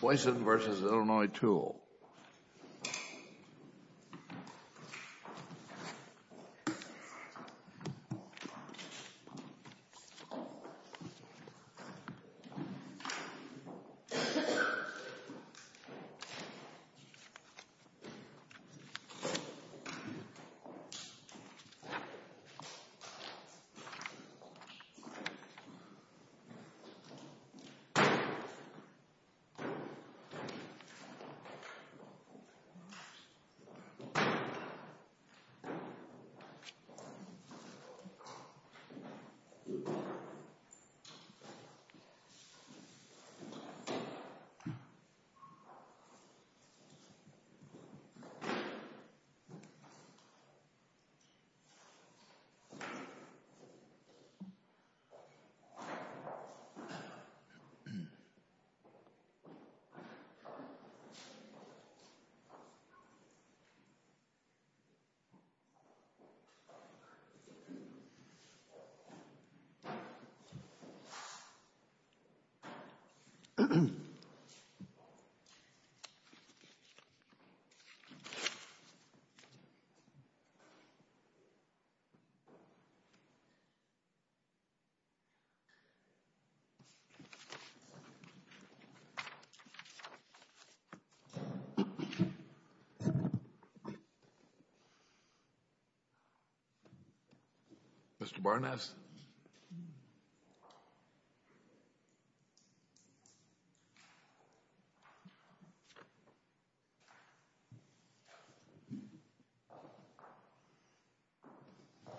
Boysen v. Illinois Tool.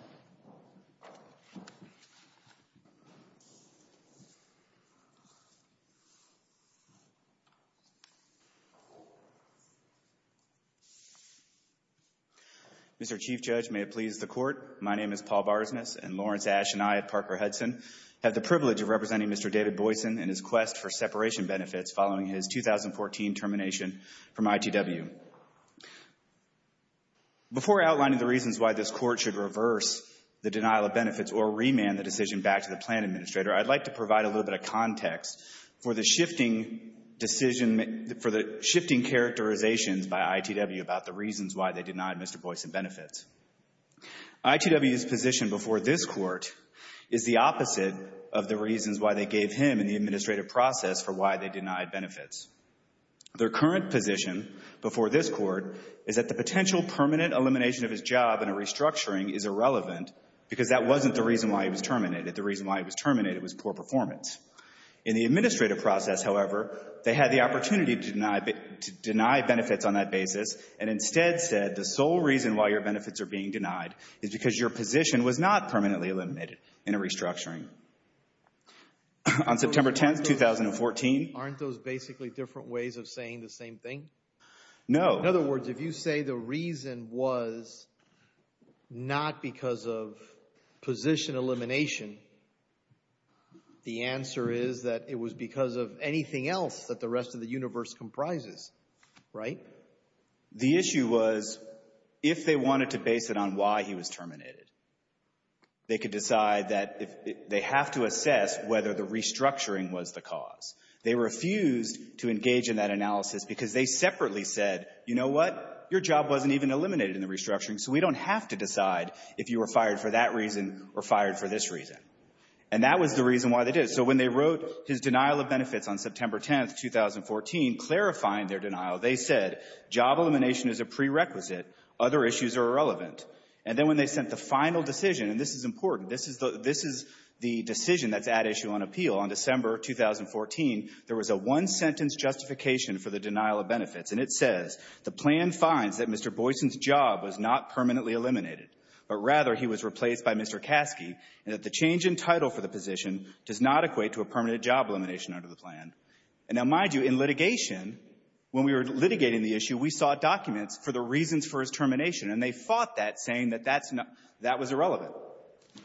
Barragon Community Colleges Management Measures Fund. Mr. Chief Judge, may it please the Court, my name is Paul Barsness, and Lawrence Ash and I at Parker Hudson have the privilege of representing Mr. David Boyson in his quest for separation benefits following his 2014 termination from ITW. Before outlining the reasons why this Court should reverse the denial of benefits or remand the decision back to the plan administrator, I'd like to provide a little bit of context for the shifting characterization by ITW about the reasons why they denied Mr. Boyson benefits. ITW's position before this Court is the opposite of the reasons why they gave him in the administrative process for why they denied benefits. Their current position before this Court is that the potential permanent elimination of his job in a restructuring is irrelevant because that wasn't the reason why he was terminated. The reason why he was terminated was poor performance. In the administrative process, however, they had the opportunity to deny benefits on that basis and instead said the sole reason why your benefits are being denied is because your position was not permanently eliminated in a restructuring. On September 10th, 2014... Aren't those basically different ways of saying the same thing? No. In other words, if you say the reason was not because of position elimination, the answer is that it was because of anything else that the rest of the universe comprises, right? The issue was if they wanted to base it on why he was terminated, they could decide that they have to assess whether the restructuring was the cause. They refused to engage in that analysis because they separately said, you know what? Your job wasn't even eliminated in the restructuring, so we don't have to decide if you were fired for that reason or fired for this reason. And that was the reason why they did it. So when they wrote his denial of benefits on September 10th, 2014, clarifying their denial, they said job elimination is a prerequisite. Other issues are irrelevant. And then when they sent the final decision, and this is important, this is the decision that's at issue on appeal, on December 2014, there was a one-sentence justification for the denial of benefits. And it says, the plan finds that Mr. Boyson's job was not permanently eliminated, but rather he was replaced by Mr. Kasky, and that the change in title for the position does not equate to a permanent job elimination under the plan. And now, mind you, in litigation, when we were litigating the issue, we sought documents for the reasons for his termination. And they fought that, saying that that's not — that was irrelevant.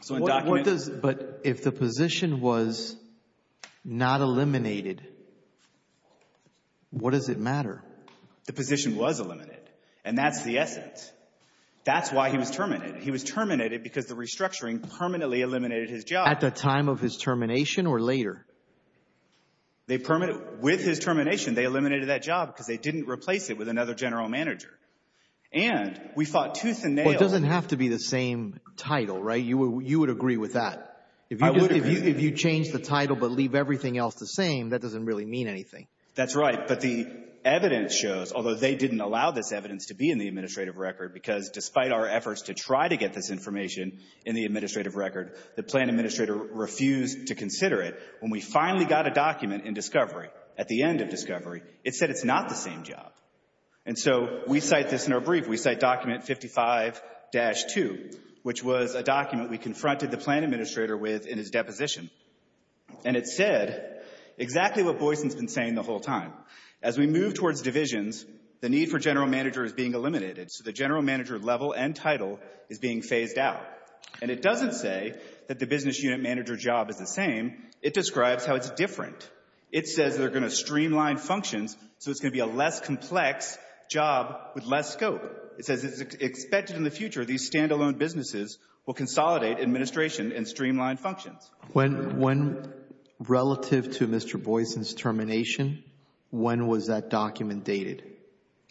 So in documents — What does — but if the position was not eliminated, what does it matter? The position was eliminated. And that's the essence. That's why he was terminated. He was terminated because the restructuring permanently eliminated his job. At the time of his termination or later? They — with his termination, they eliminated that job because they didn't replace it with another general manager. And we fought tooth and nail — Well, it doesn't have to be the same title, right? You would agree with that. I would agree. If you change the title but leave everything else the same, that doesn't really mean anything. That's right. But the evidence shows, although they didn't allow this evidence to be in the administrative record, because despite our efforts to try to get this information in the administrative record, the plan administrator refused to consider it. When we finally got a document in Discovery, at the end of Discovery, it said it's not the same job. And so we cite this in our brief. We cite document 55-2, which was a document we confronted the plan administrator with in his deposition. And it said exactly what Boyson's been saying the whole time. As we move towards divisions, the need for general manager is being eliminated. So the general manager level and title is being phased out. And it doesn't say that the business unit manager job is the same. It describes how it's different. It says they're going to streamline functions so it's going to be a less complex job with It says it's expected in the future these standalone businesses will consolidate administration and streamline functions. When relative to Mr. Boyson's termination, when was that document dated?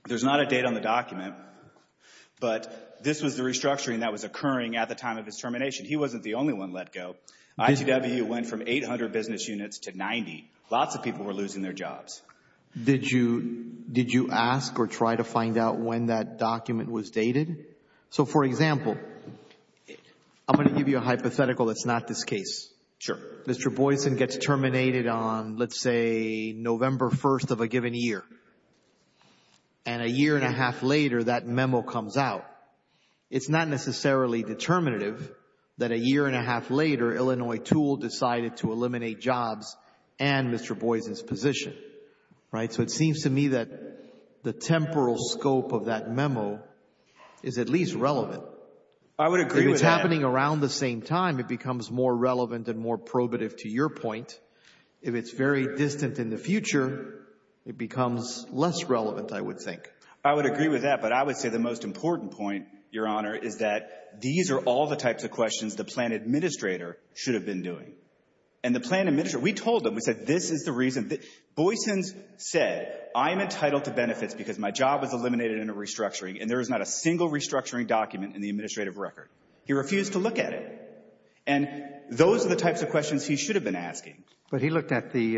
There's not a date on the document, but this was the restructuring that was occurring at the time of his termination. He wasn't the only one let go. ITWU went from 800 business units to 90. Lots of people were losing their jobs. Did you ask or try to find out when that document was dated? So for example, I'm going to give you a hypothetical that's not this case. Sure. Mr. Boyson gets terminated on, let's say, November 1st of a given year. And a year and a half later, that memo comes out. It's not necessarily determinative that a year and a half later, Illinois Tool decided to eliminate jobs and Mr. Boyson's position. Right? So it seems to me that the temporal scope of that memo is at least relevant. I would agree with that. If it's happening around the same time, it becomes more relevant and more probative to your point. If it's very distant in the future, it becomes less relevant, I would think. I would agree with that. But I would say the most important point, Your Honor, is that these are all the types of questions the plan administrator should have been doing. And the plan administrator, we told him, we said, this is the reason, Boyson said, I'm entitled to benefits because my job was eliminated in a restructuring and there is not a single restructuring document in the administrative record. He refused to look at it. And those are the types of questions he should have been asking. But he looked at the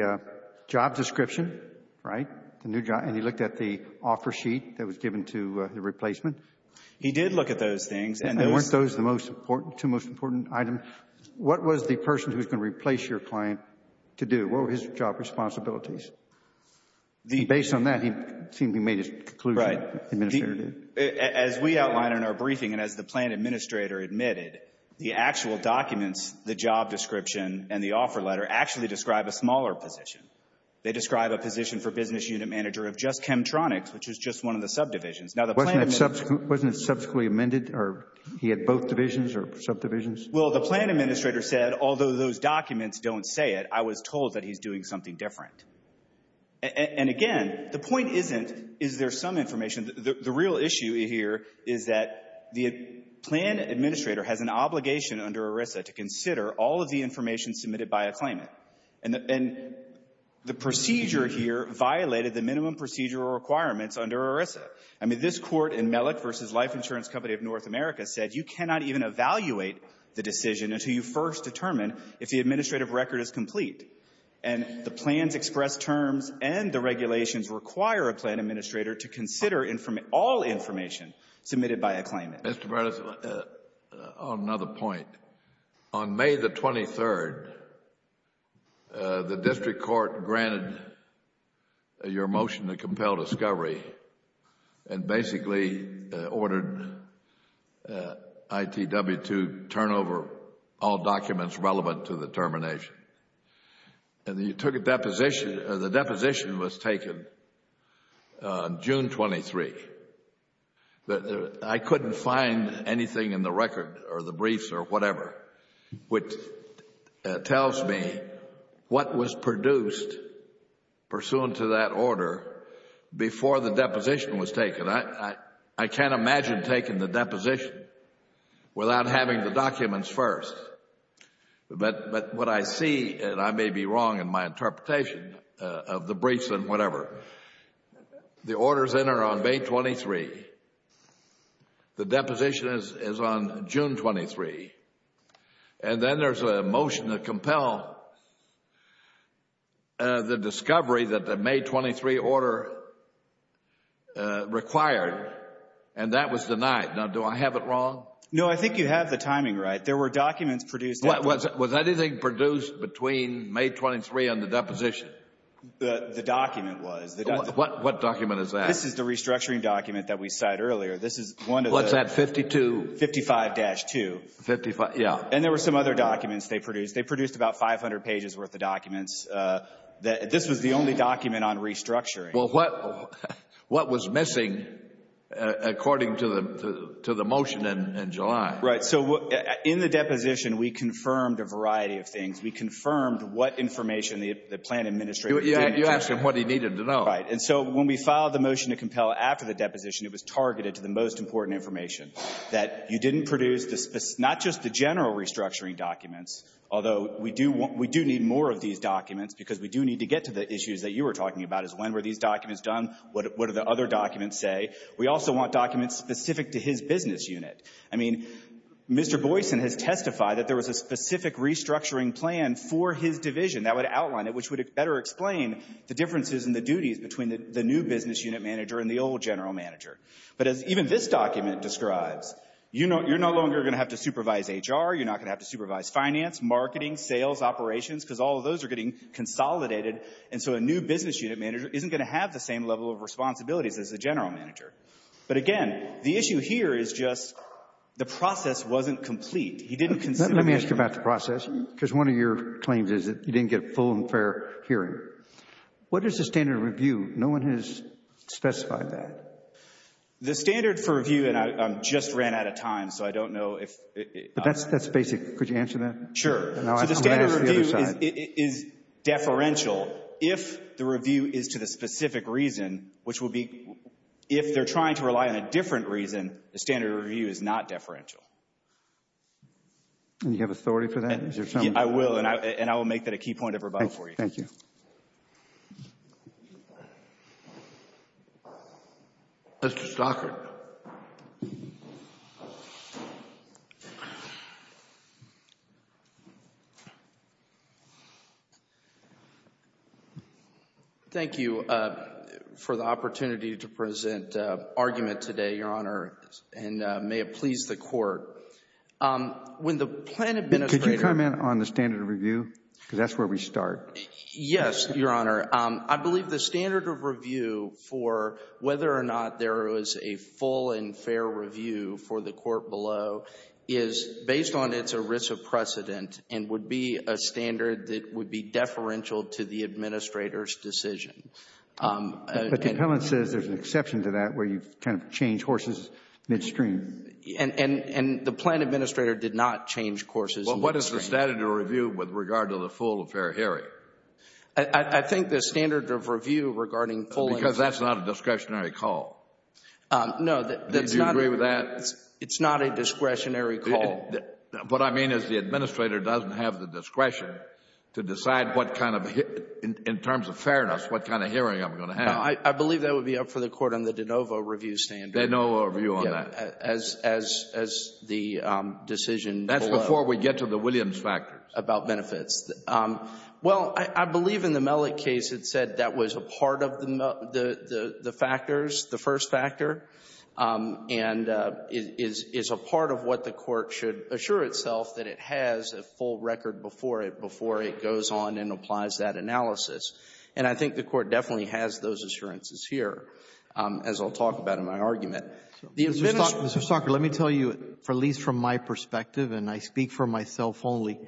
job description, right, the new job, and he looked at the offer sheet that was given to the replacement. He did look at those things. And weren't those the most important, two most important items? What was the person who was going to replace your client to do? What were his job responsibilities? Based on that, he seemed to have made his conclusion. As we outlined in our briefing and as the plan administrator admitted, the actual documents, the job description and the offer letter actually describe a smaller position. They describe a position for business unit manager of just Chemtronics, which is just one of the subdivisions. Wasn't it subsequently amended or he had both divisions or subdivisions? Well, the plan administrator said, although those documents don't say it, I was told that he's doing something different. And again, the point isn't, is there some information? The real issue here is that the plan administrator has an obligation under ERISA to consider all of the information submitted by a claimant. And the procedure here violated the minimum procedural requirements under ERISA. I mean, this court in Mellick v. Life Insurance Company of North America said you cannot even evaluate the decision until you first determine if the administrative record is complete. And the plans express terms and the regulations require a plan administrator to consider all information submitted by a claimant. Mr. Brennan, on another point, on May the 23rd, the district court granted your motion to compel discovery and basically ordered ITW to turn over all documents relevant to the termination. And you took a deposition, the deposition was taken on June 23. I couldn't find anything in the record or the briefs or whatever, which tells me what was produced pursuant to that order before the deposition was taken. I can't imagine taking the deposition without having the documents first. But what I see, and I may be wrong in my interpretation of the briefs and whatever, the orders enter on May 23. The deposition is on June 23. And then there's a motion to compel the discovery that the May 23 order required and that was denied. Now, do I have it wrong? No, I think you have the timing right. There were documents produced. Was anything produced between May 23 and the deposition? The document was. What document is that? This is the restructuring document that we cited earlier. This is one of the... What's that, 52? 55-2. 55, yeah. And there were some other documents they produced. They produced about 500 pages worth of documents. This was the only document on restructuring. Well, what was missing according to the motion in July? Right. So, in the deposition, we confirmed a variety of things. We confirmed what information the plan administrator... You asked him what he needed to know. Right. And so, when we filed the motion to compel after the deposition, it was targeted to the most important information, that you didn't produce not just the general restructuring documents, although we do need more of these documents because we do need to get to the issues that you were talking about, is when were these documents done, what do the other documents say. We also want documents specific to his business unit. I mean, Mr. Boyson has testified that there was a specific restructuring plan for his division that would outline it, which would better explain the differences in the duties between the new business unit manager and the old general manager. But as even this document describes, you're no longer going to have to supervise HR, you're not going to have to supervise finance, marketing, sales, operations, because all of those are getting consolidated, and so a new business unit manager isn't going to have the same level of responsibilities as the general manager. But again, the issue here is just the process wasn't complete. He didn't consider... Let me ask you about the process, because one of your claims is that you didn't get a full and fair hearing. What is the standard of review? No one has specified that. The standard for review, and I just ran out of time, so I don't know if... But that's basic. Could you answer that? Sure. So the standard review is deferential. If the review is to the specific reason, which would be if they're trying to rely on a different reason, the standard review is not deferential. And you have authority for that? I will, and I will make that a key point of rebuttal for you. Thank you. Mr. Stockert. Thank you for the opportunity to present argument today, Your Honor, and may it please the Court. When the plan administrator... Could you comment on the standard review, because that's where we start? Yes, Your Honor. I believe the standard of review for whether or not there is a full and fair review for the court below is based on its erisa precedent and would be a standard that would be deferential to the administrator's decision. But the appellant says there's an exception to that where you kind of change horses midstream. And the plan administrator did not change horses midstream. What is the standard of review with regard to the full and fair hearing? I think the standard of review regarding full and fair... Because that's not a discretionary call. No, that's not... Do you agree with that? It's not a discretionary call. What I mean is the administrator doesn't have the discretion to decide what kind of, in terms of fairness, what kind of hearing I'm going to have. I believe that would be up for the Court on the de novo review standard. De novo review on that. As the decision below. That's before we get to the Williams factors. About benefits. Well, I believe in the Mellick case it said that was a part of the factors, the first factor, and is a part of what the Court should assure itself that it has a full record before it goes on and applies that analysis. And I think the Court definitely has those assurances here, as I'll talk about in my argument. Mr. Stalker, let me tell you, at least from my perspective, and I speak for myself only,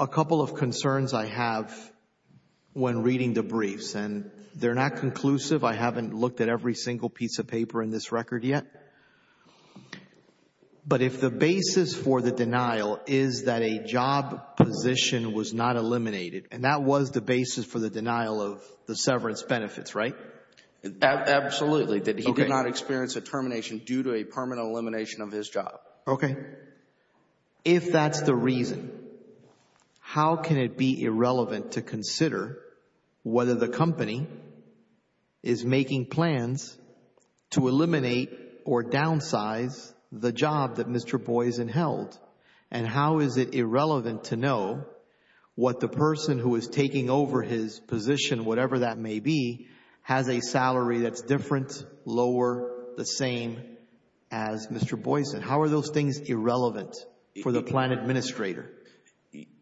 a couple of concerns I have when reading the briefs, and they're not conclusive. I haven't looked at every single piece of paper in this record yet, but if the basis for the denial is that a job position was not eliminated, and that was the basis for the denial of the severance benefits, right? Absolutely. He did not experience a termination due to a permanent elimination of his job. Okay. If that's the reason, how can it be irrelevant to consider whether the company is making plans to eliminate or downsize the job that Mr. Boysen held? And how is it irrelevant to know what the person who is taking over his position, whatever that may be, has a salary that's different, lower, the same as Mr. Boysen? How are those things irrelevant for the plan administrator?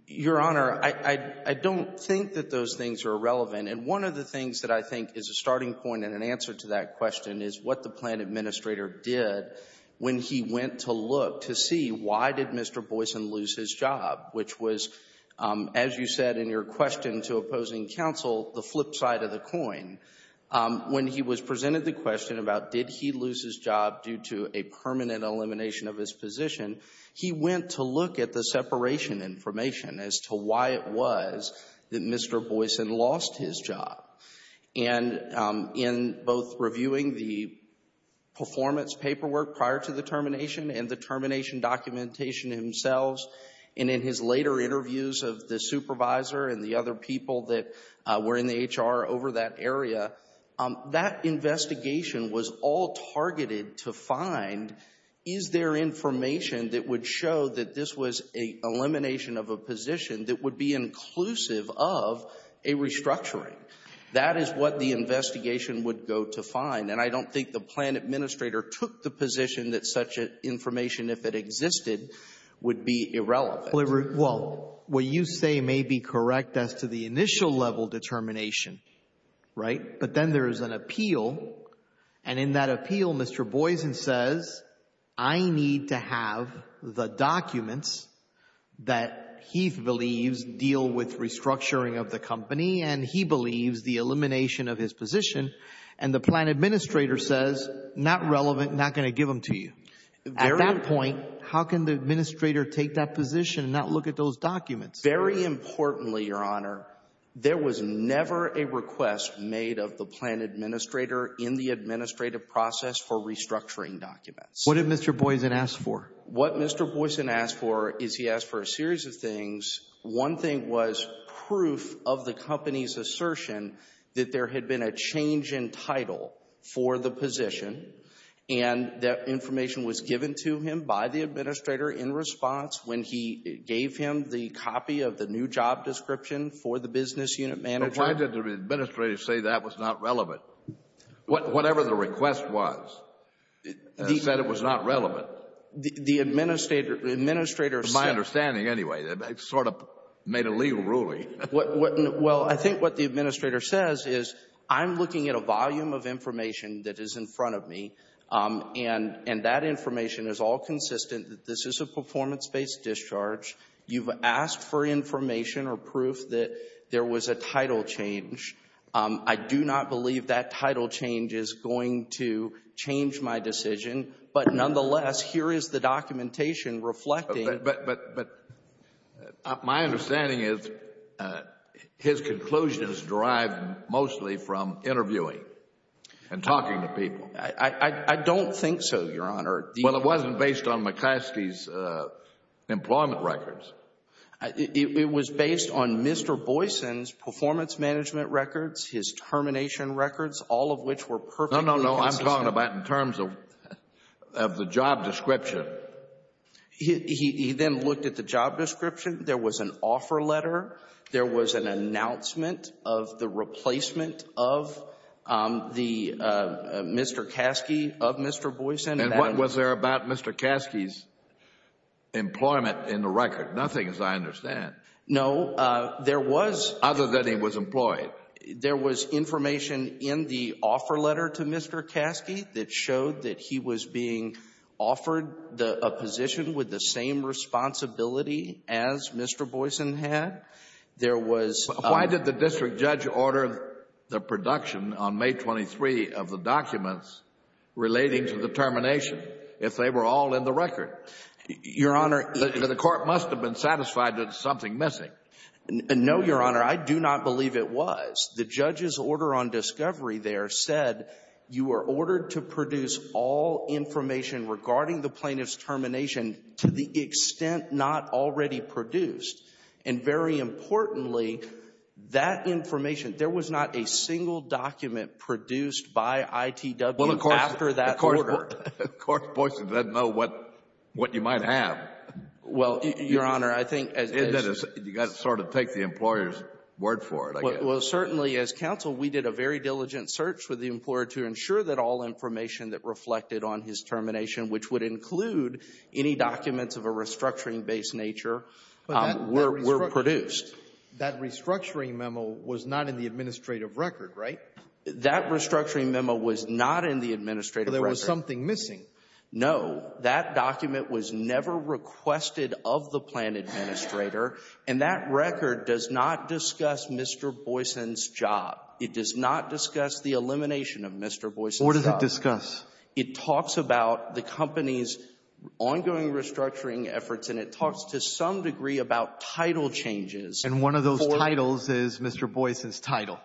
Your Honor, I don't think that those things are irrelevant, and one of the things that I think is a starting point and an answer to that question is what the plan administrator did when he went to look to see why did Mr. Boysen lose his job, which was, as you said in your question to opposing counsel, the flip side of the coin. When he was presented the question about did he lose his job due to a permanent elimination of his position, he went to look at the separation information as to why it was that Mr. Boysen lost his job. And in both reviewing the performance paperwork prior to the termination and the termination documentation himself, and in his later interviews of the supervisor and the other people that were in the HR over that area, that investigation was all targeted to find is there information that would show that this was an elimination of a position that would be inclusive of a restructuring. That is what the investigation would go to find, and I don't think the plan administrator took the position that such information, if it existed, would be irrelevant. Well, what you say may be correct as to the initial level determination, right? But then there is an appeal, and in that appeal, Mr. Boysen says, I need to have the documents that he believes deal with restructuring of the company, and he believes the elimination of his position, and the plan administrator says, not relevant, not going to give them to you. At that point, how can the administrator take that position and not look at those documents? Very importantly, Your Honor, there was never a request made of the plan administrator in the administrative process for restructuring documents. What did Mr. Boysen ask for? What Mr. Boysen asked for is he asked for a series of things. One thing was proof of the company's assertion that there had been a change in title for the position, and that information was given to him by the administrator in response when he gave him the copy of the new job description for the business unit manager. But why did the administrator say that was not relevant? Whatever the request was, it said it was not relevant. The administrator said My understanding, anyway, sort of made a legal ruling. Well, I think what the administrator says is, I'm looking at a volume of information that is in front of me, and that information is all consistent that this is a performance-based discharge. You've asked for information or proof that there was a title change. I do not believe that title change is going to change my decision, but, nonetheless, here is the documentation reflecting it. But my understanding is his conclusion is derived mostly from interviewing and talking to people. I don't think so, Your Honor. Well, it wasn't based on McKiskey's employment records. It was based on Mr. Boysen's performance management records, his termination records, all of which were perfectly consistent. No, no, no. I'm talking about in terms of the job description. He then looked at the job description. There was an offer letter. There was an announcement of the replacement of Mr. Kasky, of Mr. Boysen. And what was there about Mr. Kasky's employment in the record? Nothing as I understand. No, there was. Other than he was employed. There was information in the offer letter to Mr. Kasky that showed that he was being offered a position with the same responsibility as Mr. Boysen had. There was a... Why did the district judge order the production on May 23 of the documents relating to the termination if they were all in the record? Your Honor... The court must have been satisfied that there was something missing. No, Your Honor. I do not believe it was. The judge's order on discovery there said you were ordered to produce all information regarding the plaintiff's termination to the extent not already produced. And very importantly, that information, there was not a single document produced by ITW after that order. Well, of course, of course, Boysen didn't know what you might have. Well, Your Honor, I think... You've got to sort of take the employer's word for it, I guess. Well, certainly, as counsel, we did a very diligent search with the employer to ensure that all information that reflected on his termination, which would include any documents of a restructuring-based nature, were produced. That restructuring memo was not in the administrative record, right? That restructuring memo was not in the administrative record. But there was something missing. No. That document was never requested of the plan administrator, and that record does not discuss Mr. Boysen's job. It does not discuss the elimination of Mr. Boysen's job. Or does it discuss? It talks about the company's ongoing restructuring efforts, and it talks to some degree about title changes. And one of those titles is Mr. Boysen's title.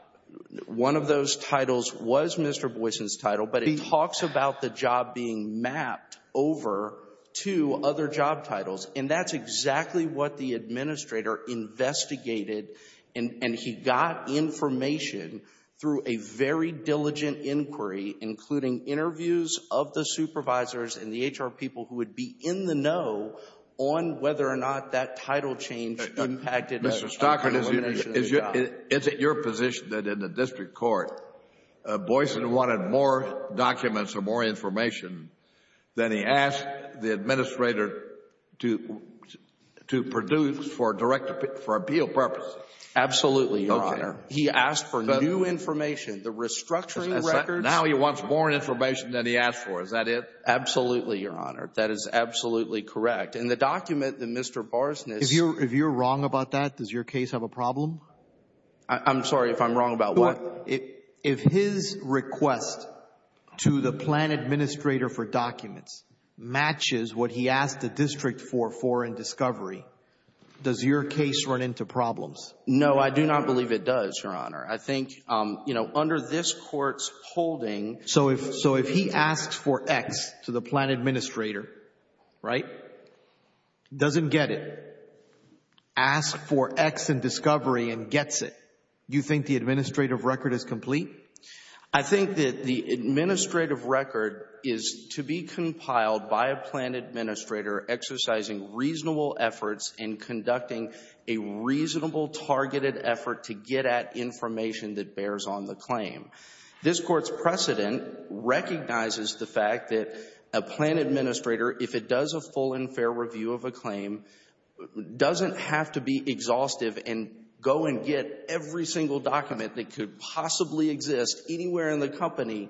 One of those titles was Mr. Boysen's title, but it talks about the job being mapped over to other job titles. And that's exactly what the administrator investigated, and he got information through a very diligent inquiry, including interviews of the supervisors and the HR people who would be in the know on whether or not that title change impacted Mr. Stocker's elimination of the job. Mr. Stocker, is it your position that in the district court, Boysen wanted more documents or more information than he asked the administrator to produce for appeal purposes? Absolutely, Your Honor. He asked for new information, the restructuring records. Now he wants more information than he asked for. Is that it? Absolutely, Your Honor. That is absolutely correct. In the document that Mr. Boysen is — If you're wrong about that, does your case have a problem? I'm sorry, if I'm wrong about what? If his request to the plan administrator for documents matches what he asked the district for in discovery, does your case run into problems? No, I do not believe it does, Your Honor. I think, you know, under this Court's holding — So if he asks for X to the plan administrator, right, doesn't get it, asks for X in discovery and gets it, do you think the administrative record is complete? I think that the administrative record is to be compiled by a plan administrator exercising reasonable efforts in conducting a reasonable, targeted effort to get at information that bears on the claim. This Court's precedent recognizes the fact that a plan administrator, if it does a full and fair review of a claim, doesn't have to be exhaustive and go and get every single document that could possibly exist anywhere in the company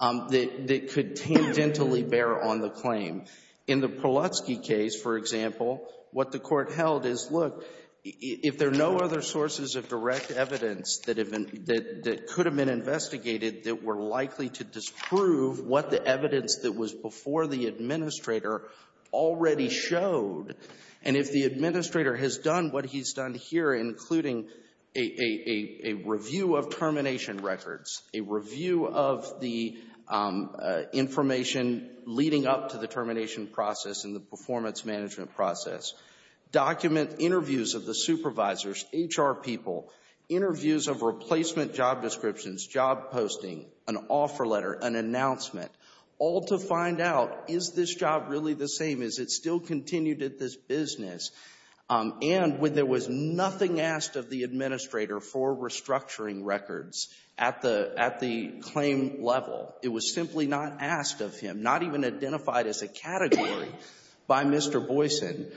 that could tangentially bear on the claim. In the Polutsky case, for example, what the Court held is, look, if there are no other sources of direct evidence that could have been investigated that were likely to disprove what the evidence that was before the administrator already showed, and if the administrator has done what he's done here, including a review of termination records, a review of the information leading up to the termination process and the performance management process, document interviews of the supervisors, HR people, interviews of replacement job descriptions, job posting, an offer letter, an announcement, all to find out, is this job really the same? Is it still continued at this business? And when there was nothing asked of the administrator for restructuring records at the claim level, it was simply not asked of him, not even identified as a category by Mr. Boyson.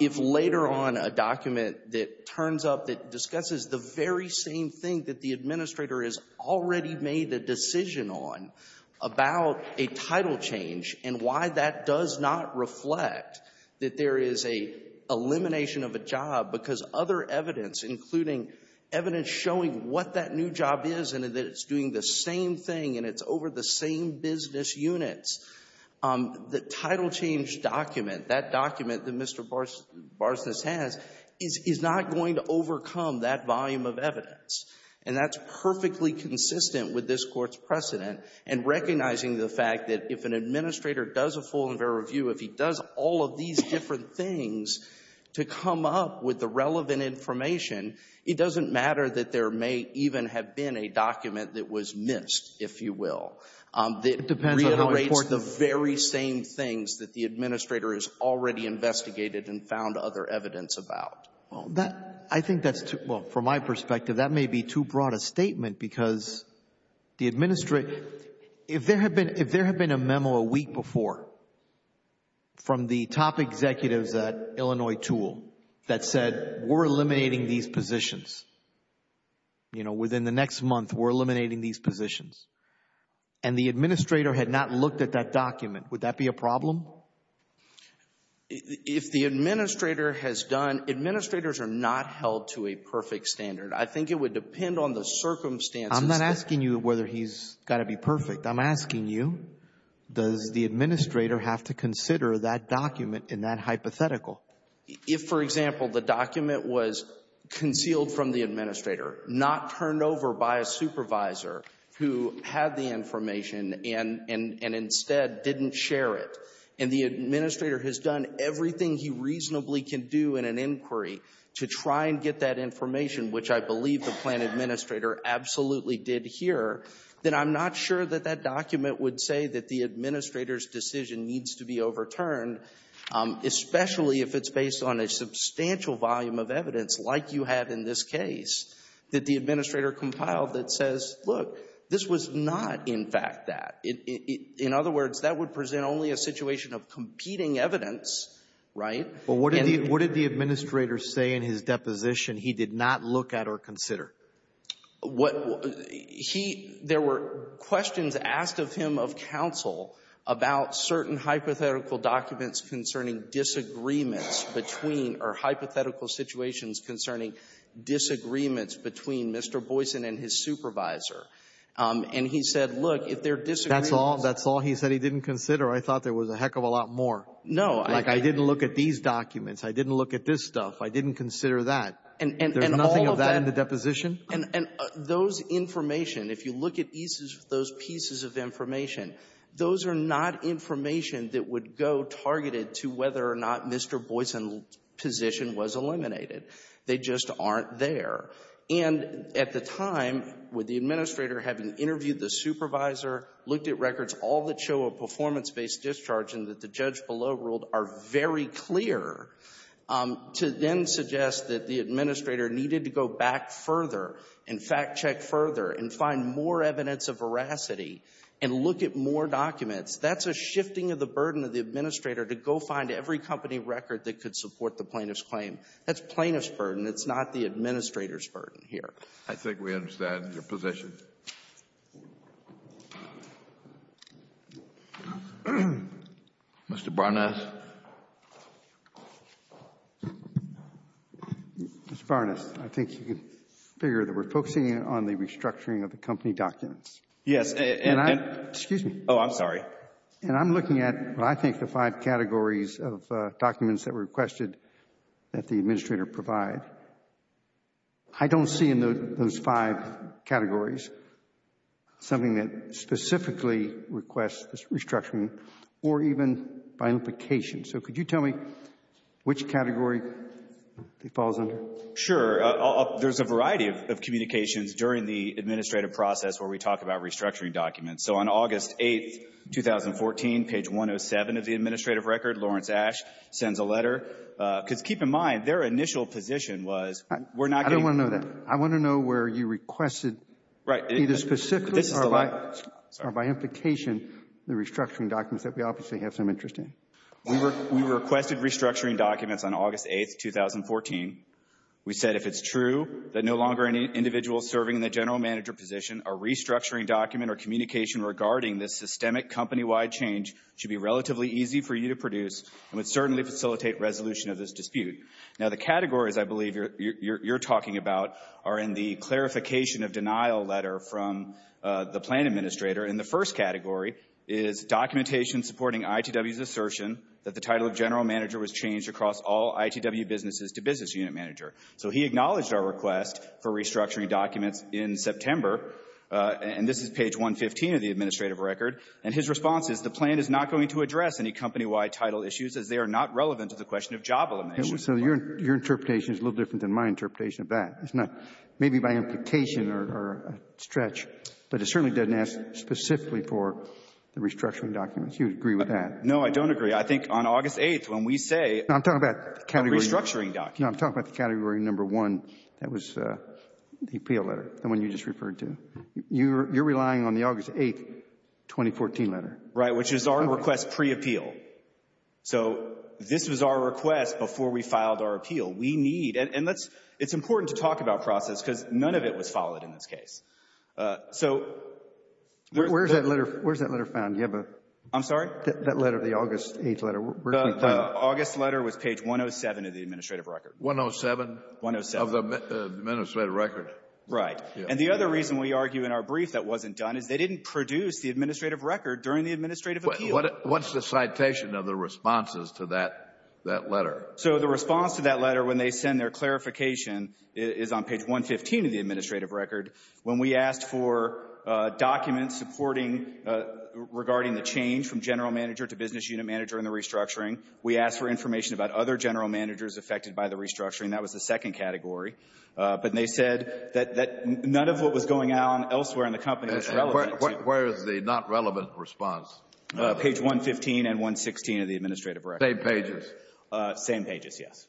If later on a document that turns up that discusses the very same thing that the administrator has already made a decision on about a title change and why that does not reflect that there is an elimination of a job because other evidence, including evidence showing what that new job is and that it's doing the same thing and it's over the same business units, the title change document, that document that Mr. Barsnes has, is not going to overcome that volume of evidence. And that's perfectly consistent with this Court's precedent in recognizing the fact that if an administrator does a full and fair review, if he does all of these different things to come up with the relevant information, it doesn't matter that there may even have been a document that was missed, if you will. It reiterates the very same things that the administrator has already investigated and found other evidence about. Well, that, I think that's too, well, from my perspective, that may be too broad a statement because the administrator, if there had been a memo a week before from the top executives at Illinois Tool that said we're eliminating these positions, you know, within the next month we're eliminating these positions, and the administrator had not looked at that document, would that be a problem? If the administrator has done, administrators are not held to a perfect standard. I think it would depend on the circumstances. I'm not asking you whether he's got to be perfect. I'm asking you, does the administrator have to consider that document in that hypothetical? If, for example, the document was concealed from the administrator, not turned over by a supervisor who had the information and instead didn't share it, and the administrator has done everything he reasonably can do in an inquiry to try and get that information, which I believe the plan administrator absolutely did here, then I'm not sure that that document would say that the administrator's decision needs to be overturned, especially if it's based on a substantial volume of evidence like you have in this case that the administrator compiled that says, look, this was not, in fact, that. In other words, that would present only a situation of competing evidence, right? Alito, what did the administrator say in his deposition he did not look at or consider? What he — there were questions asked of him of counsel about certain hypothetical documents concerning disagreements between — or hypothetical situations concerning disagreements between Mr. Boyson and his supervisor. And he said, look, if there are disagreements — That's all — that's all he said he didn't consider? I thought there was a heck of a lot more. No. Like, I didn't look at these documents. I didn't look at this stuff. I didn't consider that. And all of that — There's nothing of that in the deposition? And those information, if you look at those pieces of information, those are not information that would go targeted to whether or not Mr. Boyson's position was eliminated. They just aren't there. And at the time, with the administrator having interviewed the supervisor, looked at records, all that show a performance-based discharge and that the judge below ruled are very clear, to then suggest that the administrator needed to go back further and fact-check further and find more evidence of veracity and look at more documents, that's a shifting of the burden of the administrator to go find every company record that could support the plaintiff's claim. That's plaintiff's burden. It's not the administrator's burden here. I think we understand your position. Mr. Barnett. Mr. Barnett, I think you can figure that we're focusing on the restructuring of the company documents. Yes. And I'm — Excuse me. Oh, I'm sorry. And I'm looking at, I think, the five categories of documents that were requested that the administrator provide. I don't see in those five categories something that specifically requests restructuring or even by implication. So could you tell me which category it falls under? Sure. There's a variety of communications during the administrative process where we talk about restructuring documents. So on August 8, 2014, page 107 of the administrative record, Lawrence Ash sends a letter. Because keep in mind, their initial position was, we're not getting — I don't want to know that. I want to know where you requested either specifically or by implication the restructuring documents that we obviously have some interest in. We requested restructuring documents on August 8, 2014. We said if it's true that no longer any individual serving in the general manager position, a restructuring document or communication regarding this systemic company-wide change should be relatively easy for you to produce and would certainly facilitate resolution of this dispute. Now, the categories I believe you're talking about are in the clarification of denial letter from the plan administrator. And the first category is documentation supporting ITW's assertion that the title of general manager was changed across all ITW businesses to business unit manager. So he acknowledged our request for restructuring documents in September, and this is page 115 of the administrative record. And his response is the plan is not going to address any company-wide title issues as they are not relevant to the question of job elimination. So your interpretation is a little different than my interpretation of that. It's not — maybe by implication or a stretch, but it certainly doesn't ask specifically for the restructuring documents. You would agree with that. No, I don't agree. I think on August 8, when we say — No, I'm talking about the category — Restructuring documents. No, I'm talking about the category number one. That was the appeal letter, the one you just referred to. You're relying on the August 8, 2014 letter. Right, which is our request pre-appeal. So this was our request before we filed our appeal. We need — and it's important to talk about process because none of it was followed in this case. So — Where's that letter found? Do you have a — I'm sorry? That letter, the August 8 letter, where did we find it? August letter was page 107 of the administrative record. 107? 107. Of the administrative record. Right. And the other reason we argue in our brief that wasn't done is they didn't produce the administrative record during the administrative appeal. What's the citation of the responses to that letter? So the response to that letter, when they send their clarification, is on page 115 of the administrative record. When we asked for documents supporting — regarding the change from general manager to business unit manager in the restructuring, we asked for information about other general managers affected by the restructuring. That was the second category. But they said that none of what was going on elsewhere in the company was relevant. Where is the not relevant response? Page 115 and 116 of the administrative record. Same pages? Same pages, yes.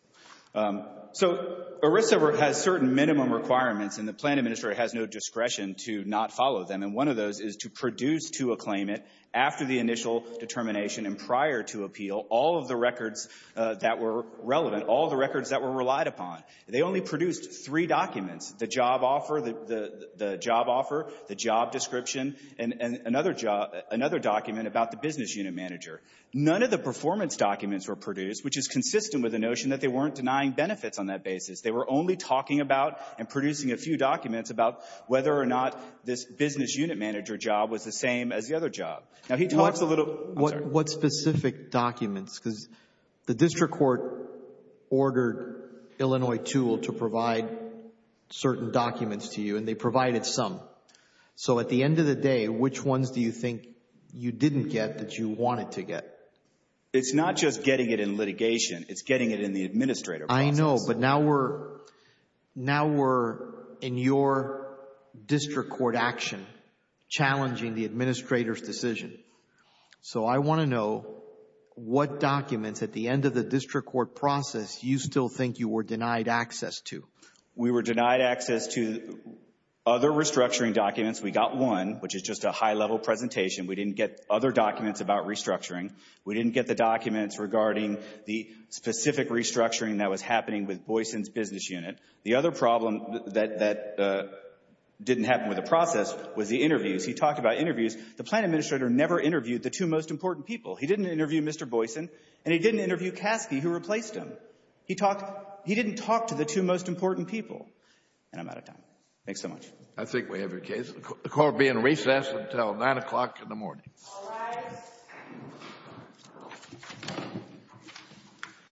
So ERISA has certain minimum requirements, and the plan administrator has no discretion to not follow them. One of those is to produce to a claimant after the initial determination and prior to appeal all of the records that were relevant, all of the records that were relied upon. They only produced three documents, the job offer, the job description, and another job — another document about the business unit manager. None of the performance documents were produced, which is consistent with the notion that they weren't denying benefits on that basis. They were only talking about and producing a few documents about whether or not this business unit manager job was the same as the other job. Now he talks a little — What specific documents? Because the district court ordered Illinois Tool to provide certain documents to you, and they provided some. So at the end of the day, which ones do you think you didn't get that you wanted to get? It's not just getting it in litigation. It's getting it in the administrative process. I know, but now we're in your district court action challenging the administrator's decision. So I want to know what documents at the end of the district court process you still think you were denied access to. We were denied access to other restructuring documents. We got one, which is just a high-level presentation. We didn't get other documents about restructuring. We didn't get the documents regarding the specific restructuring that was happening with Boyson's business unit. The other problem that didn't happen with the process was the interviews. He talked about interviews. The plant administrator never interviewed the two most important people. He didn't interview Mr. Boyson, and he didn't interview Caskey, who replaced him. He didn't talk to the two most important people. And I'm out of time. Thanks so much. I think we have your case. The court will be in recess until 9 o'clock in the morning. All rise.